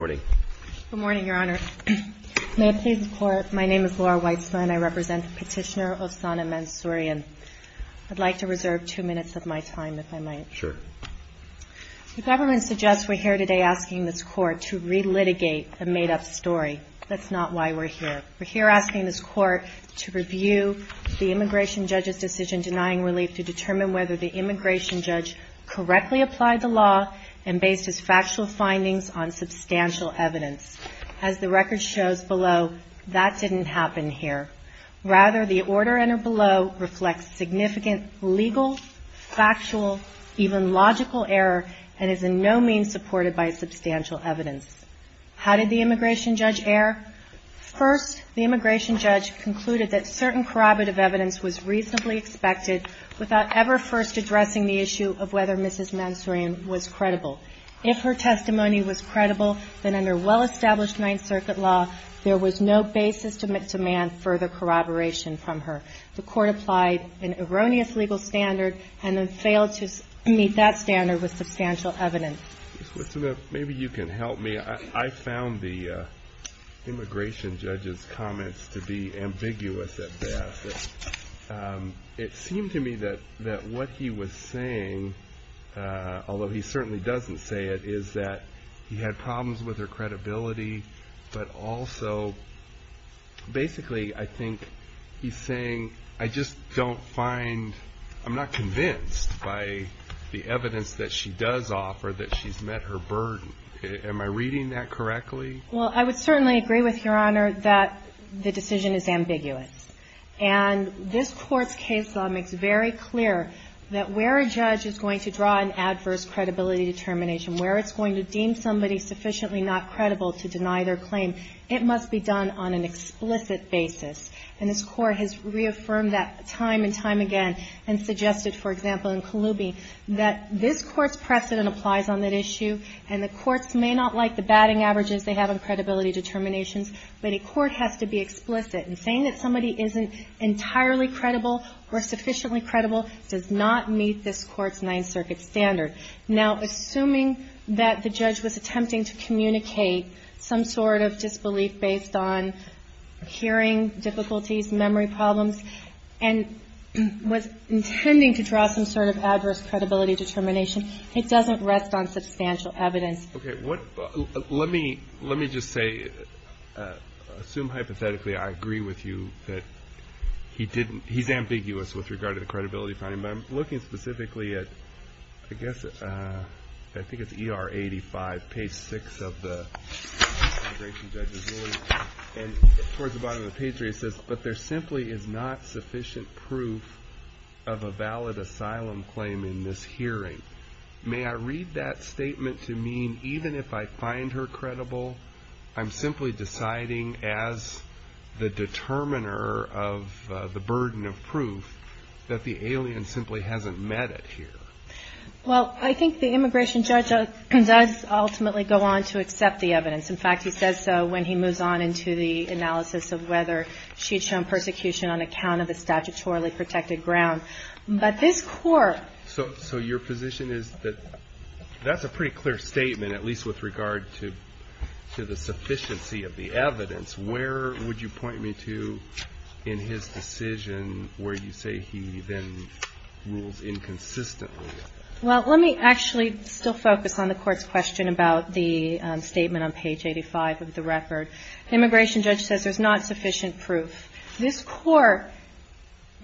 GHALEHMAMAKAEI Good morning, Your Honor. May it please the Court, my name is Laura Weissman, I represent Petitioner Osana Mansourian. I'd like to reserve two minutes of my time, if I might. The government suggests we're here today asking this Court to re-litigate a made-up story. That's not why we're here. We're here asking this Court to review the immigration judge's decision denying relief to determine whether the immigration judge correctly applied the law and based his factual findings on substantial evidence. As the record shows below, that didn't happen here. Rather, the order in or below reflects significant legal, factual, even logical error and is in no means supported by substantial evidence. How did the immigration judge err? First, the immigration judge concluded that certain corroborative evidence was reasonably expected without ever first addressing the issue of whether Mrs. Mansourian was credible. If her testimony was credible, then under well-established Ninth Circuit law, there was no basis to demand further corroboration from her. The Court applied an erroneous legal standard and then failed to meet that standard with substantial evidence. MR. GARRETT Maybe you can help me. I found the immigration judge's comments to be ambiguous at best. It seemed to me that what he was saying, although he certainly doesn't say it, is that he had problems with her credibility, but also, basically, I think he's saying, I just don't find, I'm not convinced by the evidence that she does offer that she's met her burden. Am I reading that correctly? MS. BENTON Well, I would certainly agree with Your Honor that the decision is ambiguous. And this Court's case law makes very clear that where a judge is going to draw an adverse credibility determination, where it's going to deem somebody sufficiently not credible to deny their claim, it must be done on an explicit basis. And this Court has reaffirmed that time and time again, and suggested, for example, in Kalubi, that this Court's precedent applies on that issue, and the courts may not like the batting averages they have on credibility determinations, but a court has to be explicit. And saying that somebody isn't entirely credible or sufficiently credible does not meet this Court's Ninth Circuit standard. Now, assuming that the judge was attempting to communicate some sort of disbelief based on hearing difficulties, memory problems, and was intending to draw some sort of adverse credibility determination, it doesn't rest on substantial evidence. MR. CLEMENT Okay. Let me just say, assume hypothetically I agree with you that he's ambiguous with regard to the credibility finding. But I'm looking specifically at, I guess, I think it's ER 85, page 6 of the integration judge's ruling, and towards the bottom of the page 3 it says, but there simply is not sufficient proof of a valid asylum claim in this hearing. May I read that statement to mean, even if I find her credible, I'm simply deciding as the determiner of the burden of proof that the alien simply hasn't met it yet? MS. BENNETT Well, I think the immigration judge does ultimately go on to accept the evidence. In fact, he says so when he moves on into the analysis of whether she'd shown persecution on account of a statutorily protected ground. But this Court MR. CLEMENT So your position is that that's a pretty clear statement, at least with regard to the sufficiency of the evidence. Where would you point me to in his decision where you say he then rules inconsistently? MS. BENNETT Well, let me actually still focus on the Court's question about the statement on page 85 of the record. The immigration judge says there's not sufficient proof. This Court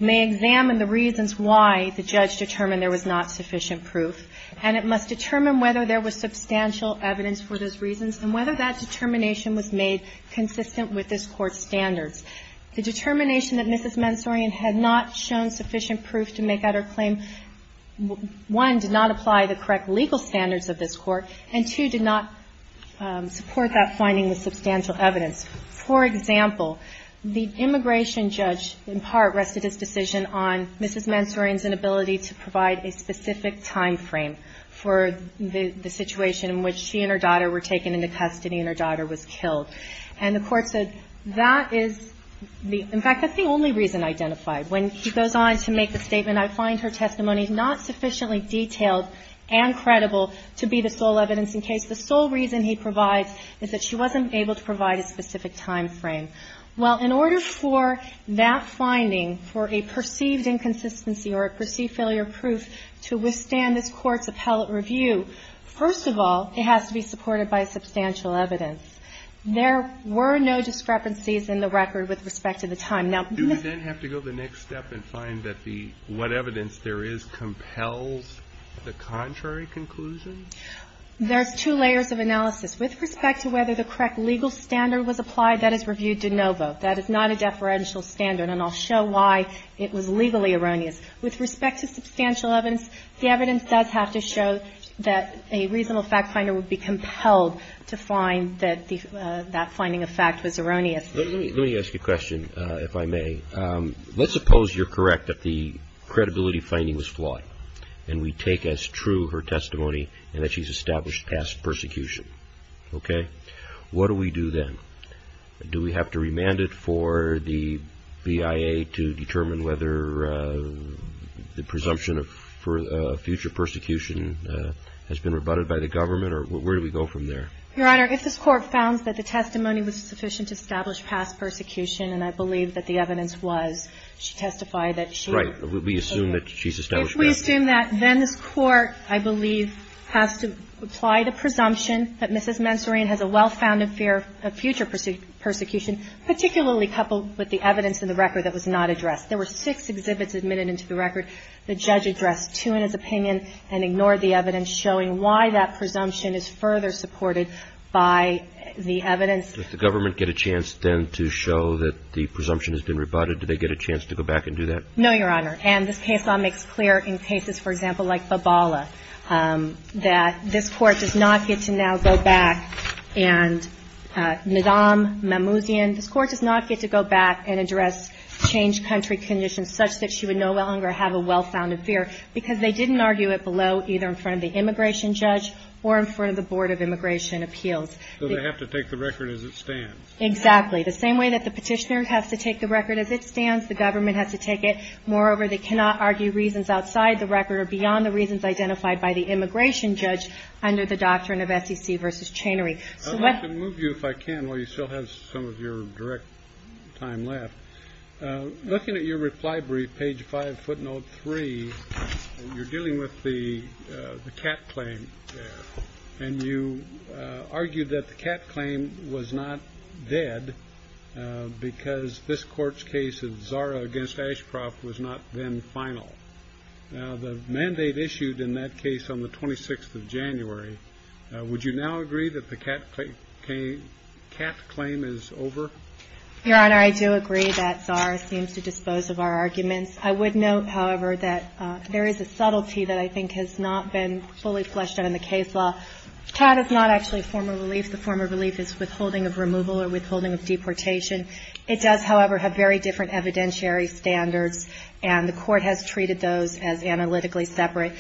may examine the reasons why the judge determined there was not sufficient proof, and it must determine whether there was substantial evidence for those reasons and whether that determination was made consistent with this Court's standards. The determination that Mrs. Mansourian had not shown sufficient proof to make that her claim, one, did not apply the correct legal standards of this Court, and two, did not support that finding with substantial evidence. For example, the immigration judge, in part, rested his decision on Mrs. Mansourian's inability to provide a specific time frame for the situation in which she and her daughter were taken into custody and her daughter was killed. And the Court said that is not sufficient evidence in fact, that's the only reason identified. When he goes on to make the statement, I find her testimony not sufficiently detailed and credible to be the sole evidence in case. The sole reason he provides is that she wasn't able to provide a specific time frame. Well, in order for that finding for a perceived inconsistency or a perceived failure proof to withstand this Court's appellate review, first of all, it has to be supported by substantial evidence. There were no discrepancies in the record with respect to the time. Now do we then have to go the next step and find that the what evidence there is compels the contrary conclusion? There's two layers of analysis. With respect to whether the correct legal standard was applied, that is reviewed de novo. That is not a deferential standard, and I'll show why it was legally erroneous. With respect to substantial evidence, the evidence does have to show that a reasonable fact finder would be compelled to find that that finding of fact was erroneous. Let me ask you a question, if I may. Let's suppose you're correct that the credibility finding was flawed, and we take as true her testimony and that she's established past persecution. Okay? What do we do then? Do we have to remand it for the V.I.A. to determine whether the presumption of future persecution has been rebutted by the government, or where do we go from there? Your Honor, if this Court found that the testimony was sufficient to establish past persecution, and I believe that the evidence was, she testified that she... Right. We assume that she's established past persecution. If we assume that, then this Court, I believe, has to apply the presumption that Mrs. Mansourian has a well-founded fear of future persecution, particularly coupled with the evidence in the record that was not addressed. There were six exhibits admitted into the record. The judge addressed two in his opinion and ignored the evidence, showing why that presumption is further supported by the evidence. Does the government get a chance, then, to show that the presumption has been rebutted? Do they get a chance to go back and do that? No, Your Honor. And this case law makes clear in cases, for example, like Babala, that this Court does not get to now go back and, Nadam Mamouzian, this Court does not get to go back and address changed country conditions such that she would no longer have a well-founded fear, because they didn't argue it below either in front of the immigration judge or in front of the Board of Immigration Appeals. So they have to take the record as it stands. Exactly. The same way that the petitioner has to take the record as it stands, the government has to take it. Moreover, they cannot argue reasons outside the record or beyond the reasons identified by the immigration judge under the doctrine of SEC versus Chanery. I'd like to move you, if I can, while you still have some of your direct time left. Looking at your reply brief, page 5, footnote 3, you're dealing with the cat claim there, and you argued that the cat claim was not dead because this Court's case of Zara against Ashcroft was not then final. Now, the mandate issued in that case on the 26th of January, would you now agree that the cat claim is over? Your Honor, I do agree that Zara seems to dispose of our arguments. I would note, however, that there is a subtlety that I think has not been fully fleshed out in the case law. Cat is not actually a form of relief. The form of relief is withholding of removal or withholding of deportation. It does, however, have very different evidentiary standards, and the Court has treated those as analytically separate.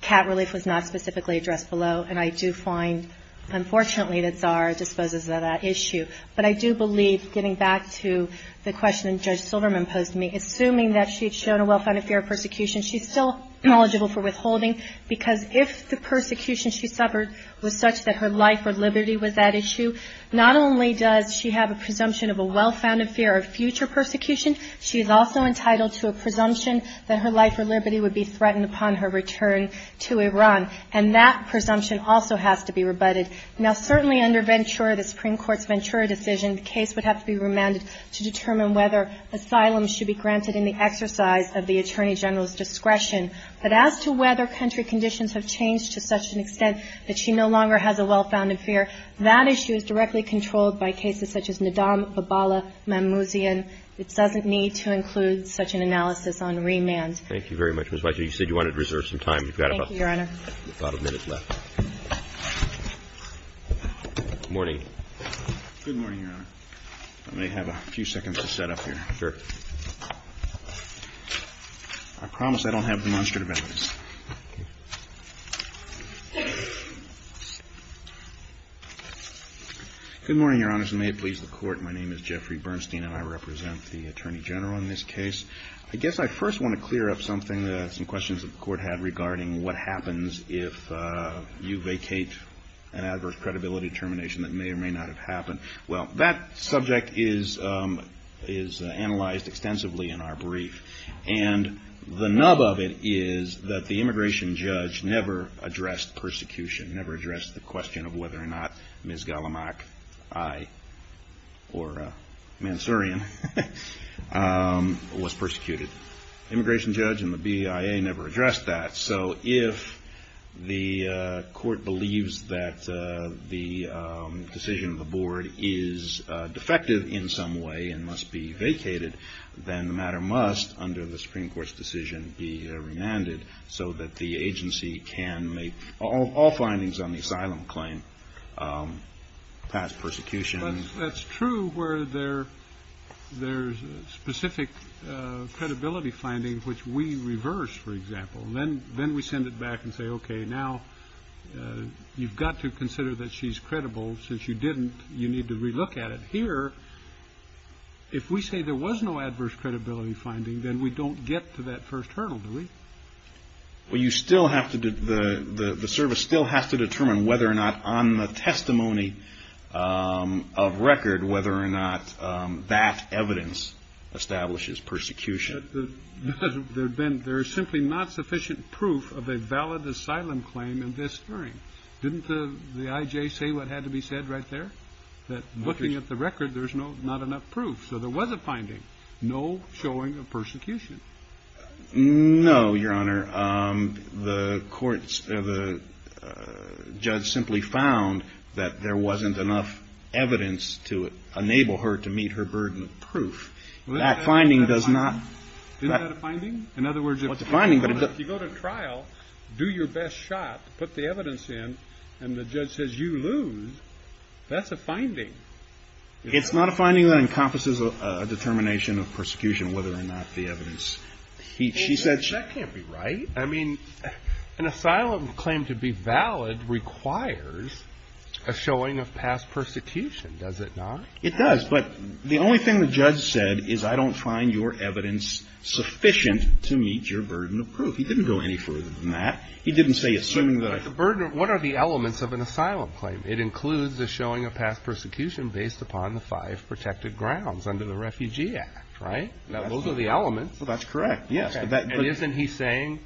Cat relief was not specifically addressed below, and I do find, unfortunately, that Zara disposes of that issue. But I do believe, getting back to the question that Judge Silverman posed to me, assuming that she'd shown a well-founded fear of persecution, she's still eligible for withholding, because if the persecution she suffered was such that her life or liberty was at issue, not only does she have a presumption of a well-founded fear of future persecution, she's also entitled to a presumption that her life or liberty would be threatened upon her return to Iran. And that presumption also has to be rebutted. Now, certainly under Ventura, the Supreme Court's Ventura decision, the case would have to be remanded to determine whether asylum should be granted in the exercise of the Attorney General's discretion. But as to whether country conditions have changed to such an extent that she no longer has a well-founded fear, that issue is directly controlled by cases such as Naddam, Babala, Mammouzian. It doesn't need to include such an analysis on remand. Thank you very much, Ms. White. You said you wanted to reserve some time. Thank you, Your Honor. You've got about a minute left. Good morning. Good morning, Your Honor. I may have a few seconds to set up here. Sure. I promise I don't have demonstrative evidence. Good morning, Your Honors, and may it please the Court. My name is Jeffrey Bernstein, and I represent the Attorney General in this case. I guess I first want to clear up something, some questions the Court had regarding what happens if you vacate an adverse credibility determination that may or may not have happened. Well, that subject is analyzed extensively in our brief, and the nub of it is that the immigration judge never addressed persecution, never addressed the question of whether or not Ms. Gallamack, I, or Mansourian was persecuted. The immigration judge and the BIA never addressed that, so if the Court believes that the decision of the Board is defective in some way and must be vacated, then the matter must, under the Supreme Court's decision, be remanded so that the agency can make all findings on the asylum claim, pass persecution. But that's true where there's specific credibility findings which we reverse, for example. Then we send it back and say, okay, now you've got to consider that she's credible. Since you didn't, you need to relook at it. Here, if we say there was no adverse credibility finding, then we don't get to that first hurdle, do we? Well, you still have to, the service still has to determine whether or not, on the testimony of record, whether or not that evidence establishes persecution. There's simply not sufficient proof of a valid asylum claim in this hearing. Didn't the IJ say what had to be said right there? That looking at the record, there's not enough proof. So there was a finding. No showing of persecution. No, Your Honor. The judge simply found that there wasn't enough evidence to enable her to meet her burden of proof. That finding does not... Isn't that a finding? In other words, if you go to trial, do your best shot, put the evidence in, It's not a finding that encompasses a determination of persecution, whether or not the evidence... That can't be right. I mean, an asylum claim to be valid requires a showing of past persecution, does it not? It does, but the only thing the judge said is, I don't find your evidence sufficient to meet your burden of proof. He didn't go any further than that. He didn't say, assuming that... What are the elements of an asylum claim? It includes a showing of past persecution based upon the five protected grounds under the Refugee Act, right? Those are the elements. That's correct, yes. And isn't he saying,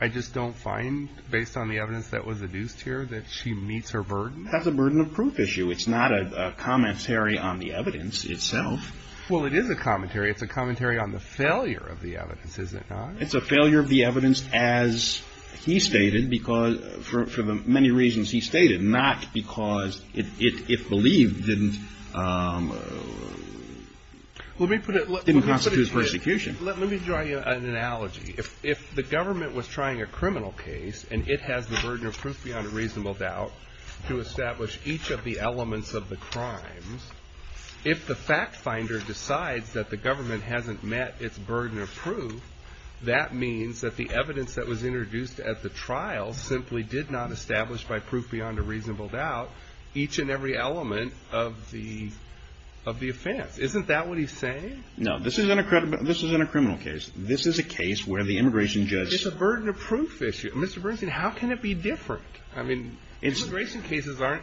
I just don't find, based on the evidence that was adduced here, that she meets her burden? That's a burden of proof issue. It's not a commentary on the evidence itself. Well, it is a commentary. It's a commentary on the failure of the evidence, is it not? It's a failure of the evidence, as he stated, for the many reasons he stated, not because it, if believed, didn't constitute persecution. Let me draw you an analogy. If the government was trying a criminal case, and it has the burden of proof beyond a reasonable doubt to establish each of the elements of the crimes, if the fact finder decides that the government hasn't met its burden of proof, that means that the evidence that was introduced at the trial simply did not establish, by proof beyond a reasonable doubt, each and every element of the offense. Isn't that what he's saying? No, this isn't a criminal case. This is a case where the immigration judge... It's a burden of proof issue. Mr. Bernstein, how can it be different? I mean, immigration cases aren't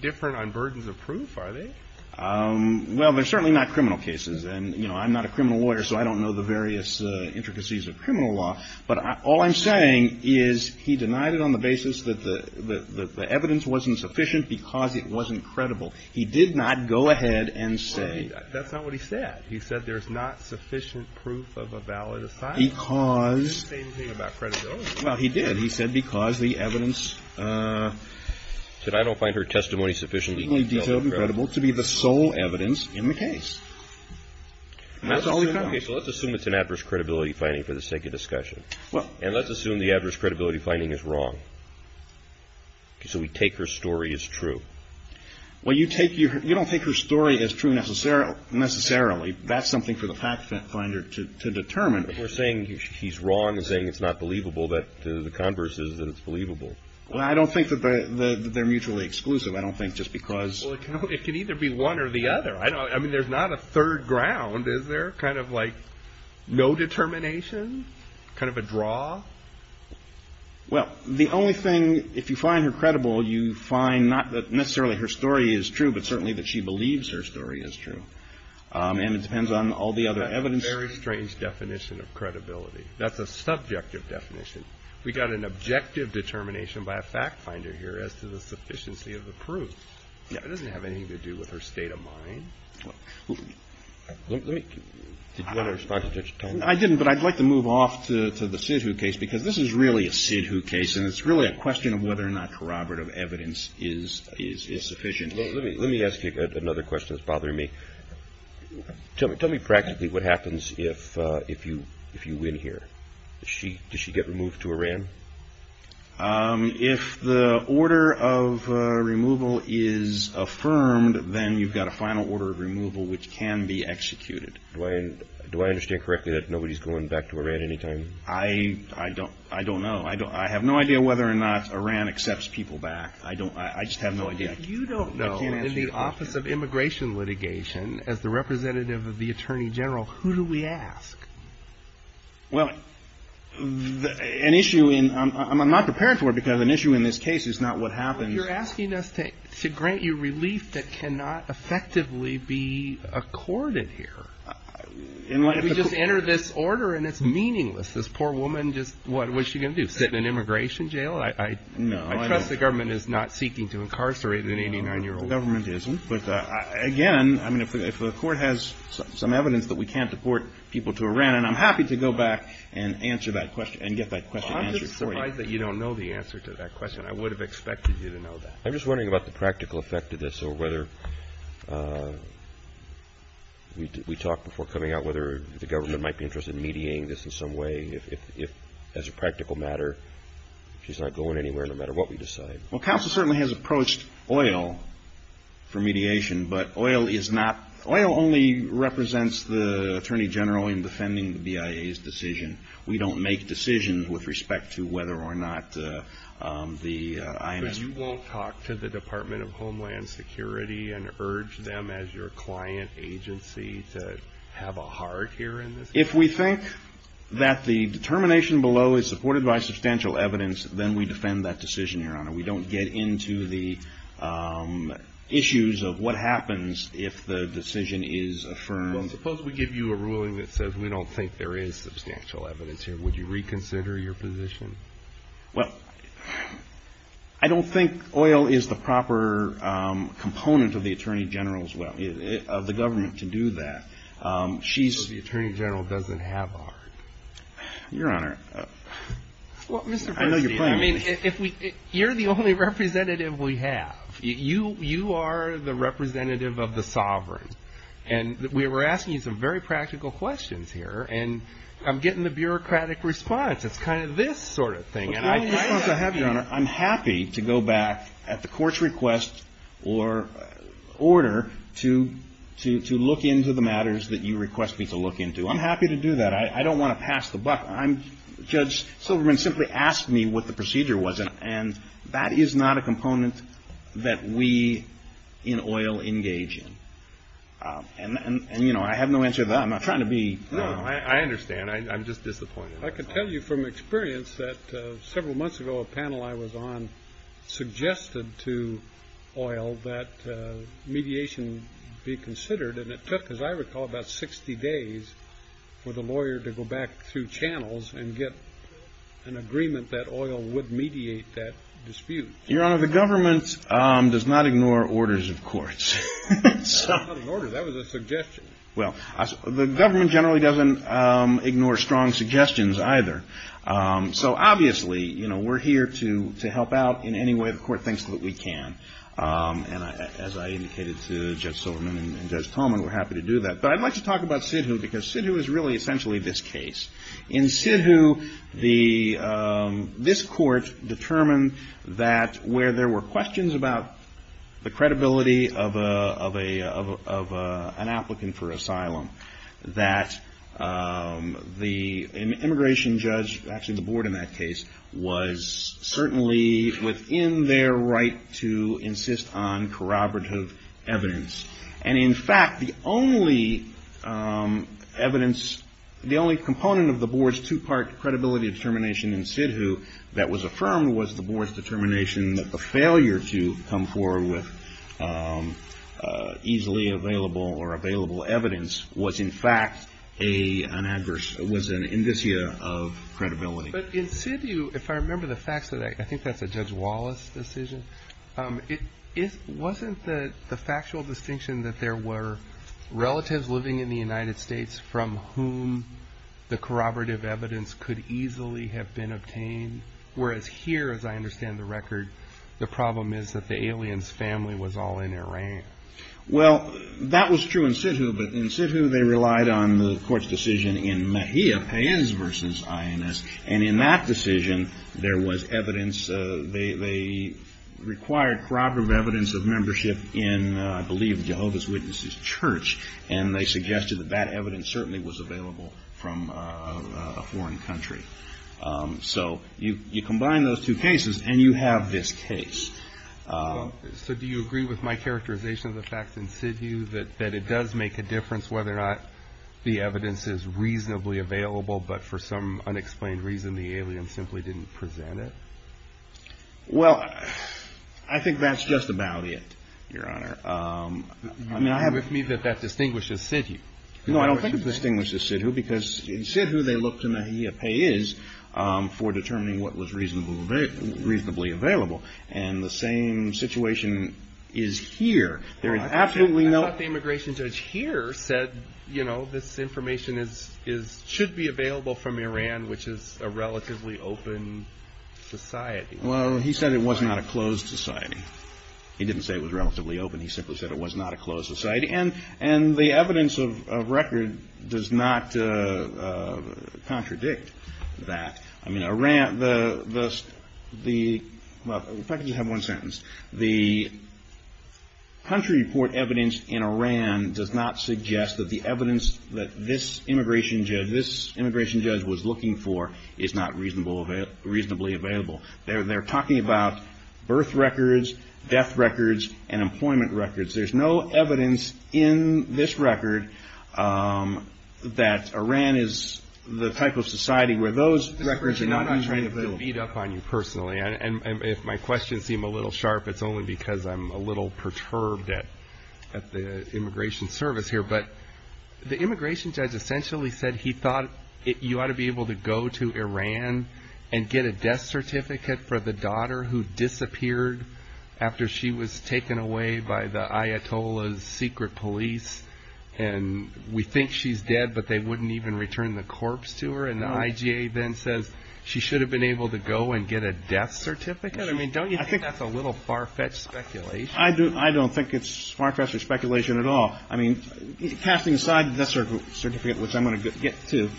different on burdens of proof, are they? Well, they're certainly not criminal cases. And, you know, I'm not a criminal lawyer, so I don't know the various intricacies of criminal law. But all I'm saying is he denied it on the basis that the evidence wasn't sufficient because it wasn't credible. He did not go ahead and say... That's not what he said. He said there's not sufficient proof of a valid assignment. Because... He didn't say anything about credibility. Well, he did. He said because the evidence... That's the sole evidence in the case. That's all we found. Okay, so let's assume it's an adverse credibility finding for the sake of discussion. And let's assume the adverse credibility finding is wrong. So we take her story as true. Well, you don't take her story as true necessarily. That's something for the fact finder to determine. But we're saying he's wrong in saying it's not believable, but the converse is that it's believable. Well, I don't think that they're mutually exclusive. I don't think just because... Well, it can either be one or the other. I mean, there's not a third ground, is there? Kind of like no determination? Kind of a draw? Well, the only thing... If you find her credible, you find not that necessarily her story is true, but certainly that she believes her story is true. And it depends on all the other evidence... That's a very strange definition of credibility. That's a subjective definition. We got an objective determination by a fact finder here as to the sufficiency of the proof. It doesn't have anything to do with her state of mind. Let me... I didn't, but I'd like to move off to the Sidhu case because this is really a Sidhu case and it's really a question of whether or not corroborative evidence is sufficient. Let me ask you another question that's bothering me. Tell me practically what happens if you win here. Does she get removed to Iran? If the order of removal is affirmed, then you've got a final order of removal which can be executed. Do I understand correctly that nobody's going back to Iran any time? I don't know. I have no idea whether or not Iran accepts people back. I just have no idea. If you don't know, in the Office of Immigration Litigation, as the representative of the Attorney General, who do we ask? Well, an issue in... I'm not prepared for it because an issue in this case is not what happens... You're asking us to grant you relief that cannot effectively be accorded here. If we just enter this order and it's meaningless, this poor woman just... What's she going to do, sit in an immigration jail? I trust the government is not seeking to incarcerate an 89-year-old. The government isn't, but again, if the court has some evidence that we can't deport people to Iran, I'm happy to go back and get that question answered for you. I'm just surprised that you don't know the answer to that question. I would have expected you to know that. I'm just wondering about the practical effect of this, or whether... We talked before coming out, whether the government might be interested in mediating this in some way, if, as a practical matter, she's not going anywhere, no matter what we decide. Well, counsel certainly has approached oil for mediation, but oil is not... Oil only represents the attorney general in defending the BIA's decision. We don't make decisions with respect to whether or not the IMF... So you won't talk to the Department of Homeland Security and urge them as your client agency to have a heart here in this case? If we think that the determination below is supported by substantial evidence, then we defend that decision, Your Honor. We don't get into the issues of what happens if the decision is affirmed. Suppose we give you a ruling that says we don't think there is substantial evidence here. Would you reconsider your position? Well, I don't think oil is the proper component of the government to do that. So the attorney general doesn't have a heart? Your Honor... I mean, you're the only representative we have. You are the representative of the sovereign. And we were asking you some very practical questions here, and I'm getting the bureaucratic response. It's kind of this sort of thing. I'm happy to go back at the court's request or order to look into the matters that you request me to look into. I'm happy to do that. I don't want to pass the buck. Judge Silverman simply asked me what the procedure was, and that is not a component that we in oil engage in. And, you know, I have no answer to that. I'm not trying to be... No, I understand. I'm just disappointed. I can tell you from experience that several months ago a panel I was on suggested to oil that mediation be considered. And it took, as I recall, about 60 days for the lawyer to go back through channels and get an agreement that oil would mediate that dispute. Your Honor, the government does not ignore orders of courts. That was a suggestion. Well, the government generally doesn't ignore strong suggestions either. So obviously, you know, we're here to help out in any way the court thinks that we can. And as I indicated to Judge Silverman and Judge Tolman, we're happy to do that. But I'd like to talk about SIDHU because SIDHU is really essentially this case. In SIDHU, this court determined that where there were questions about the credibility of an applicant for asylum, that the immigration judge, actually the board in that case, was certainly within their right to insist on corroborative evidence. And in fact, the only evidence, the only component of the board's two-part credibility determination in SIDHU that was affirmed was the board's determination that the failure to come forward with easily available or available evidence was in fact an adverse, was an indicia of credibility. But in SIDHU, if I remember the facts, I think that's a Judge Wallace decision. Wasn't the factual distinction that there were relatives living in the United States from whom the corroborative evidence could easily have been obtained? Whereas here, as I understand the record, the problem is that the alien's family was all in Iran. Well, that was true in SIDHU. But in SIDHU, they relied on the court's decision in Mahia Payens v. INS. And in that decision, there was evidence, they required corroborative evidence of membership in, I believe, Jehovah's Witnesses Church. And they suggested that that evidence certainly was available from a foreign country. So you combine those two cases, and you have this case. So do you agree with my characterization of the facts in SIDHU that it does make a difference whether or not the evidence is reasonably available, but for some unexplained reason, the alien simply didn't present it? Well, I think that's just about it, Your Honor. Do you agree with me that that distinguishes SIDHU? No, I don't think it distinguishes SIDHU, because in SIDHU, they look to Mahia Payens for determining what was reasonably available. And the same situation is here. I thought the immigration judge here said, you know, this information should be available from Iran, which is a relatively open society. Well, he said it was not a closed society. He didn't say it was relatively open. He simply said it was not a closed society. And the evidence of record does not contradict that. I mean, Iran, the country report evidence in Iran does not suggest that the evidence that this immigration judge was looking for is not reasonably available. They're talking about birth records, death records, and employment records. There's no evidence in this record that Iran is the type of society where those records are not reasonably available. I'm not trying to beat up on you personally. And if my questions seem a little sharp, it's only because I'm a little perturbed at the immigration service here. But the immigration judge essentially said he thought you ought to be able to go to Iran and get a death certificate for the daughter who disappeared after she was taken away by the Ayatollah's secret police. And we think she's dead, but they wouldn't even return the corpse to her. And the IGA then says she should have been able to go and get a death certificate? I mean, don't you think that's a little far-fetched speculation? I don't think it's far-fetched speculation at all. I mean, passing aside the death certificate, which I'm going to get to,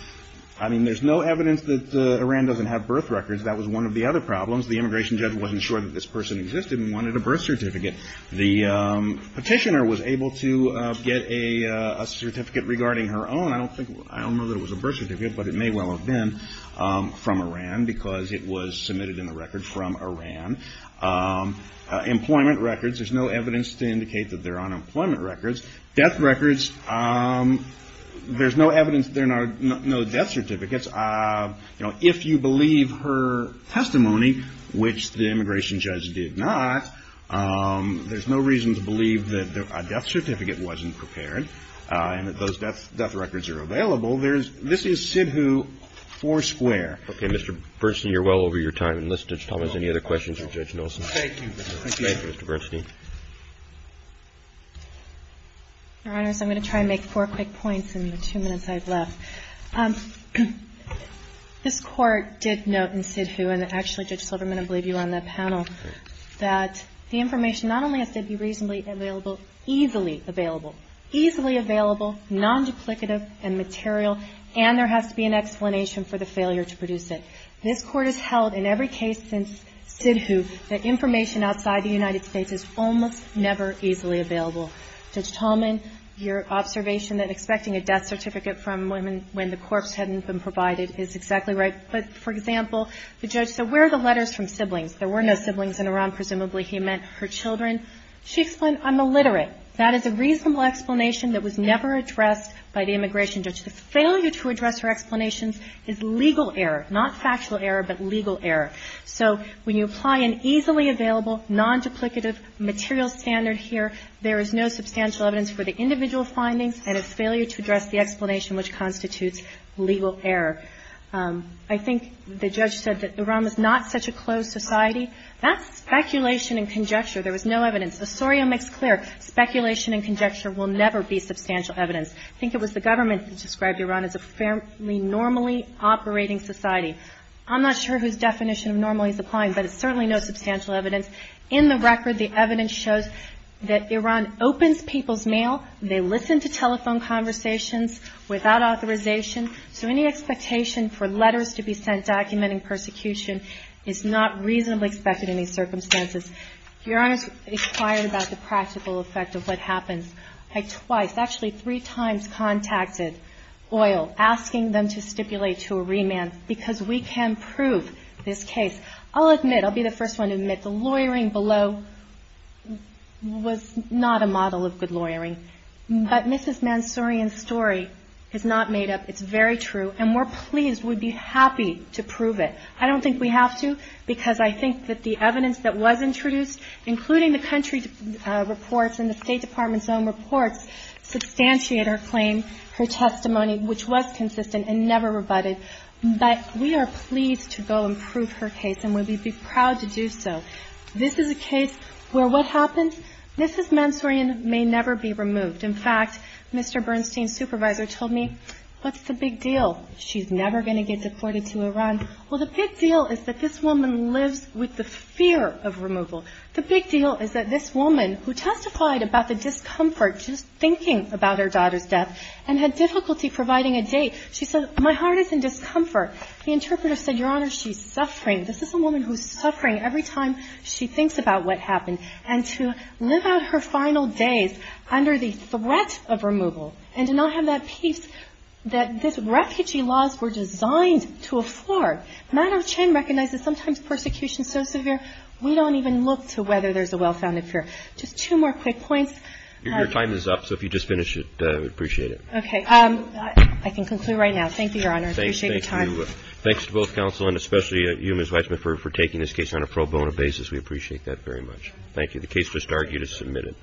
I mean, there's no evidence that Iran doesn't have birth records. That was one of the other problems. The immigration judge wasn't sure that this person existed and wanted a birth certificate. The petitioner was able to get a certificate regarding her own. I don't know that it was a birth certificate, but it may well have been from Iran because it was submitted in the record from Iran. Employment records. There's no evidence to indicate that they're unemployment records. Death records. There's no evidence. There are no death certificates. If you believe her testimony, which the immigration judge did not, there's no reason to believe that a death certificate wasn't prepared and that those death records are available. This is SIDHU four square. Okay. Mr. Bernstein, you're well over your time. Unless Judge Thomas, any other questions for Judge Nelson? Thank you. Thank you, Mr. Bernstein. Your Honors, I'm going to try and make four quick points in the two minutes I have left. This Court did note in SIDHU, and actually, Judge Silverman, I believe you were on that panel, that the information not only has to be reasonably available, easily available, easily available, non-duplicative and material, and there has to be an explanation for the failure to produce it. This Court has held in every case since SIDHU that information outside the United States is almost never easily available. Judge Tolman, your observation that expecting a death certificate from women when the corpse hadn't been provided is exactly right. But, for example, the judge said, where are the letters from siblings? There were no siblings in Iran. Presumably he meant her children. She explained, I'm illiterate. That is a reasonable explanation that was never addressed by the immigration judge. The failure to address her explanations is legal error, not factual error, but legal error. So when you apply an easily available, non-duplicative material standard here, there is no substantial evidence for the individual findings and a failure to address the explanation which constitutes legal error. I think the judge said that Iran was not such a closed society. That's speculation and conjecture. There was no evidence. Osorio makes clear, speculation and conjecture will never be substantial evidence. I think it was the government that described Iran as a fairly normally operating society. I'm not sure whose definition of normally is applying, but it's certainly no substantial evidence. In the record, the evidence shows that Iran opens people's mail, they listen to telephone conversations without authorization, so any expectation for letters to be sent documenting persecution is not reasonably expected in these circumstances. Your Honor's inquired about the practical effect of what happens. I twice, actually three times, contacted OIL, asking them to stipulate to a remand, because we can prove this case. I'll admit, I'll be the first one to admit, the lawyering below was not a model of good lawyering. But Mrs. Mansourian's story is not made up. It's very true, and we're pleased. We'd be happy to prove it. I don't think we have to, because I think that the evidence that was introduced, including the country reports and the State Department's own reports, substantiate her claim, her testimony, which was consistent and never rebutted. But we are pleased to go and prove her case and we'd be proud to do so. This is a case where what happens? Mrs. Mansourian may never be removed. In fact, Mr. Bernstein's supervisor told me, What's the big deal? She's never going to get deported to Iran. Well, the big deal is that this woman lives with the fear of removal. The big deal is that this woman, who testified about the discomfort just thinking about her daughter's death and had difficulty providing a date, she said, My heart is in discomfort. The interpreter said, Your Honor, she's suffering. This is a woman who's suffering every time she thinks about what happened. And to live out her final days under the threat of removal and to not have that peace that these refugee laws were designed to afford. Madam Chen recognizes sometimes persecution is so severe we don't even look to whether there's a well-founded fear. Just two more quick points. Your time is up, so if you just finish it, we'd appreciate it. I can conclude right now. Thank you, Your Honor. Thanks to both counsel and especially you, Ms. Weitzman, for taking this case on a pro bono basis. We appreciate that very much. Thank you. The case just argued is submitted.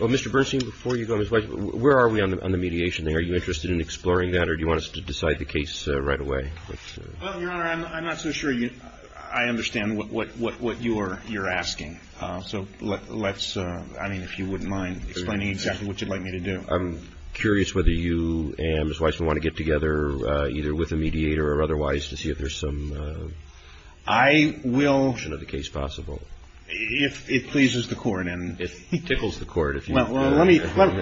Well, Mr. Bernstein, before you go, Ms. Weitzman, where are we on the mediation thing? Are you interested in exploring that or do you want us to decide the case right away? Well, Your Honor, I'm not so sure I understand what you're asking. So let's, I mean, if you wouldn't mind explaining exactly what you'd like me to do. I'm curious whether you and Ms. Weitzman want to get together either with a mediator or otherwise to see if there's some I will If it pleases the court It tickles the court Let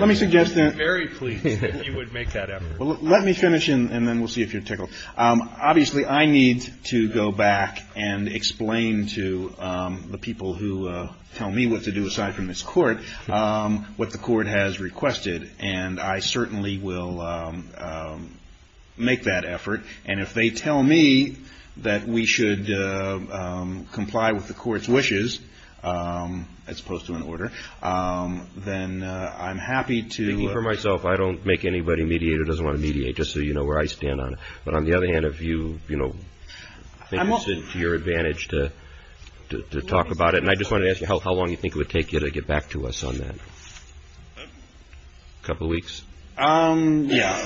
me suggest that I would be very pleased if you would make that effort Let me finish and then we'll see if you're tickled Obviously, I need to go back and explain to the people who tell me what to do aside from this court what the court has requested and I certainly will make that effort and if they tell me that we should comply with the court's wishes as opposed to an order then I'm happy to I don't make anybody mediate or doesn't want to mediate just so you know where I stand on it but on the other hand if you think it's to your advantage to talk about it and I just wanted to ask you how long do you think it would take you to get back to us on that? A couple weeks? Yeah,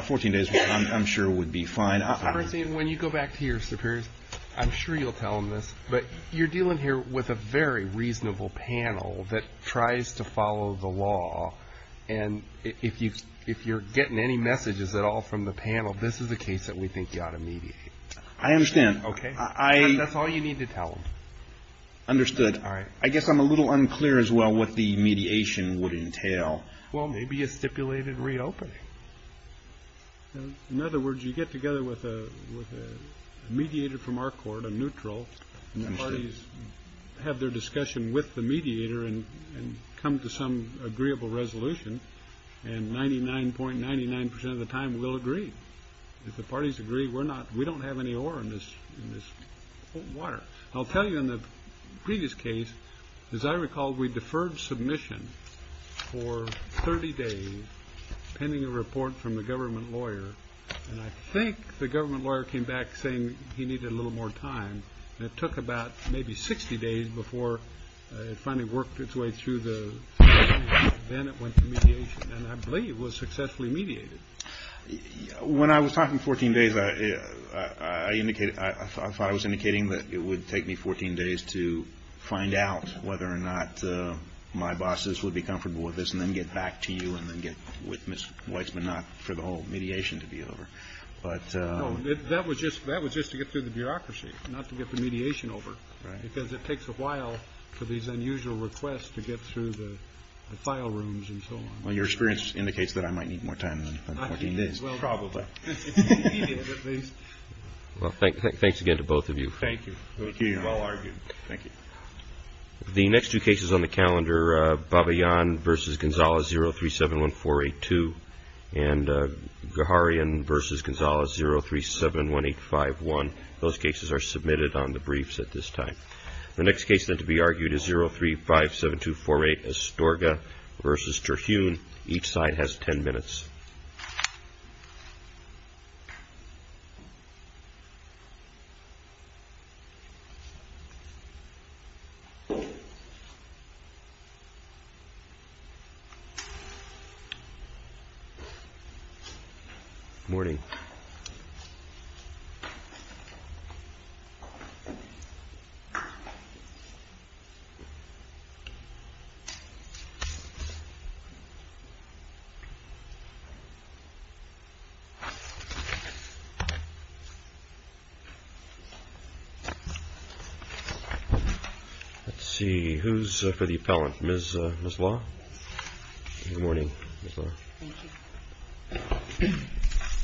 14 days I'm sure would be fine When you go back to your superiors I'm sure you'll tell them this but you're dealing here with a very reasonable panel that tries to follow the law and if you're getting any messages at all from the panel this is the case that we think you ought to mediate I understand That's all you need to tell them Understood I guess I'm a little unclear as well what the mediation would entail Well maybe a stipulated reopening In other words you get together with a mediator from our court, a neutral and the parties have their discussion with the mediator and come to some agreeable resolution and 99.99% of the time we'll agree if the parties agree we don't have any ore in this water I'll tell you in the previous case as I recall we deferred submission for 30 days pending a report from the government lawyer and I think the government lawyer came back saying he needed a little more time and it took about maybe 60 days before it finally worked its way through then it went to mediation and I believe was successfully mediated When I was talking 14 days I thought I was indicating that it would take me 14 days to find out whether or not my bosses would be comfortable with this and then get back to you with Ms. Weitzman not for the whole mediation to be over That was just to get through the bureaucracy not to get the mediation over because it takes a while for these unusual requests to get through the file rooms and so on Your experience indicates that I might need more time than 14 days Thanks again to both of you Thank you The next two cases on the calendar are Babayan vs. Gonzales 0371482 and Gaharian vs. Gonzales 0371851 Those cases are submitted on the briefs at this time The next case then to be argued is 0357248 Astorga vs. Terhune Each side has 10 minutes Morning Let's see Who's for the appellant? Ms. Law Good morning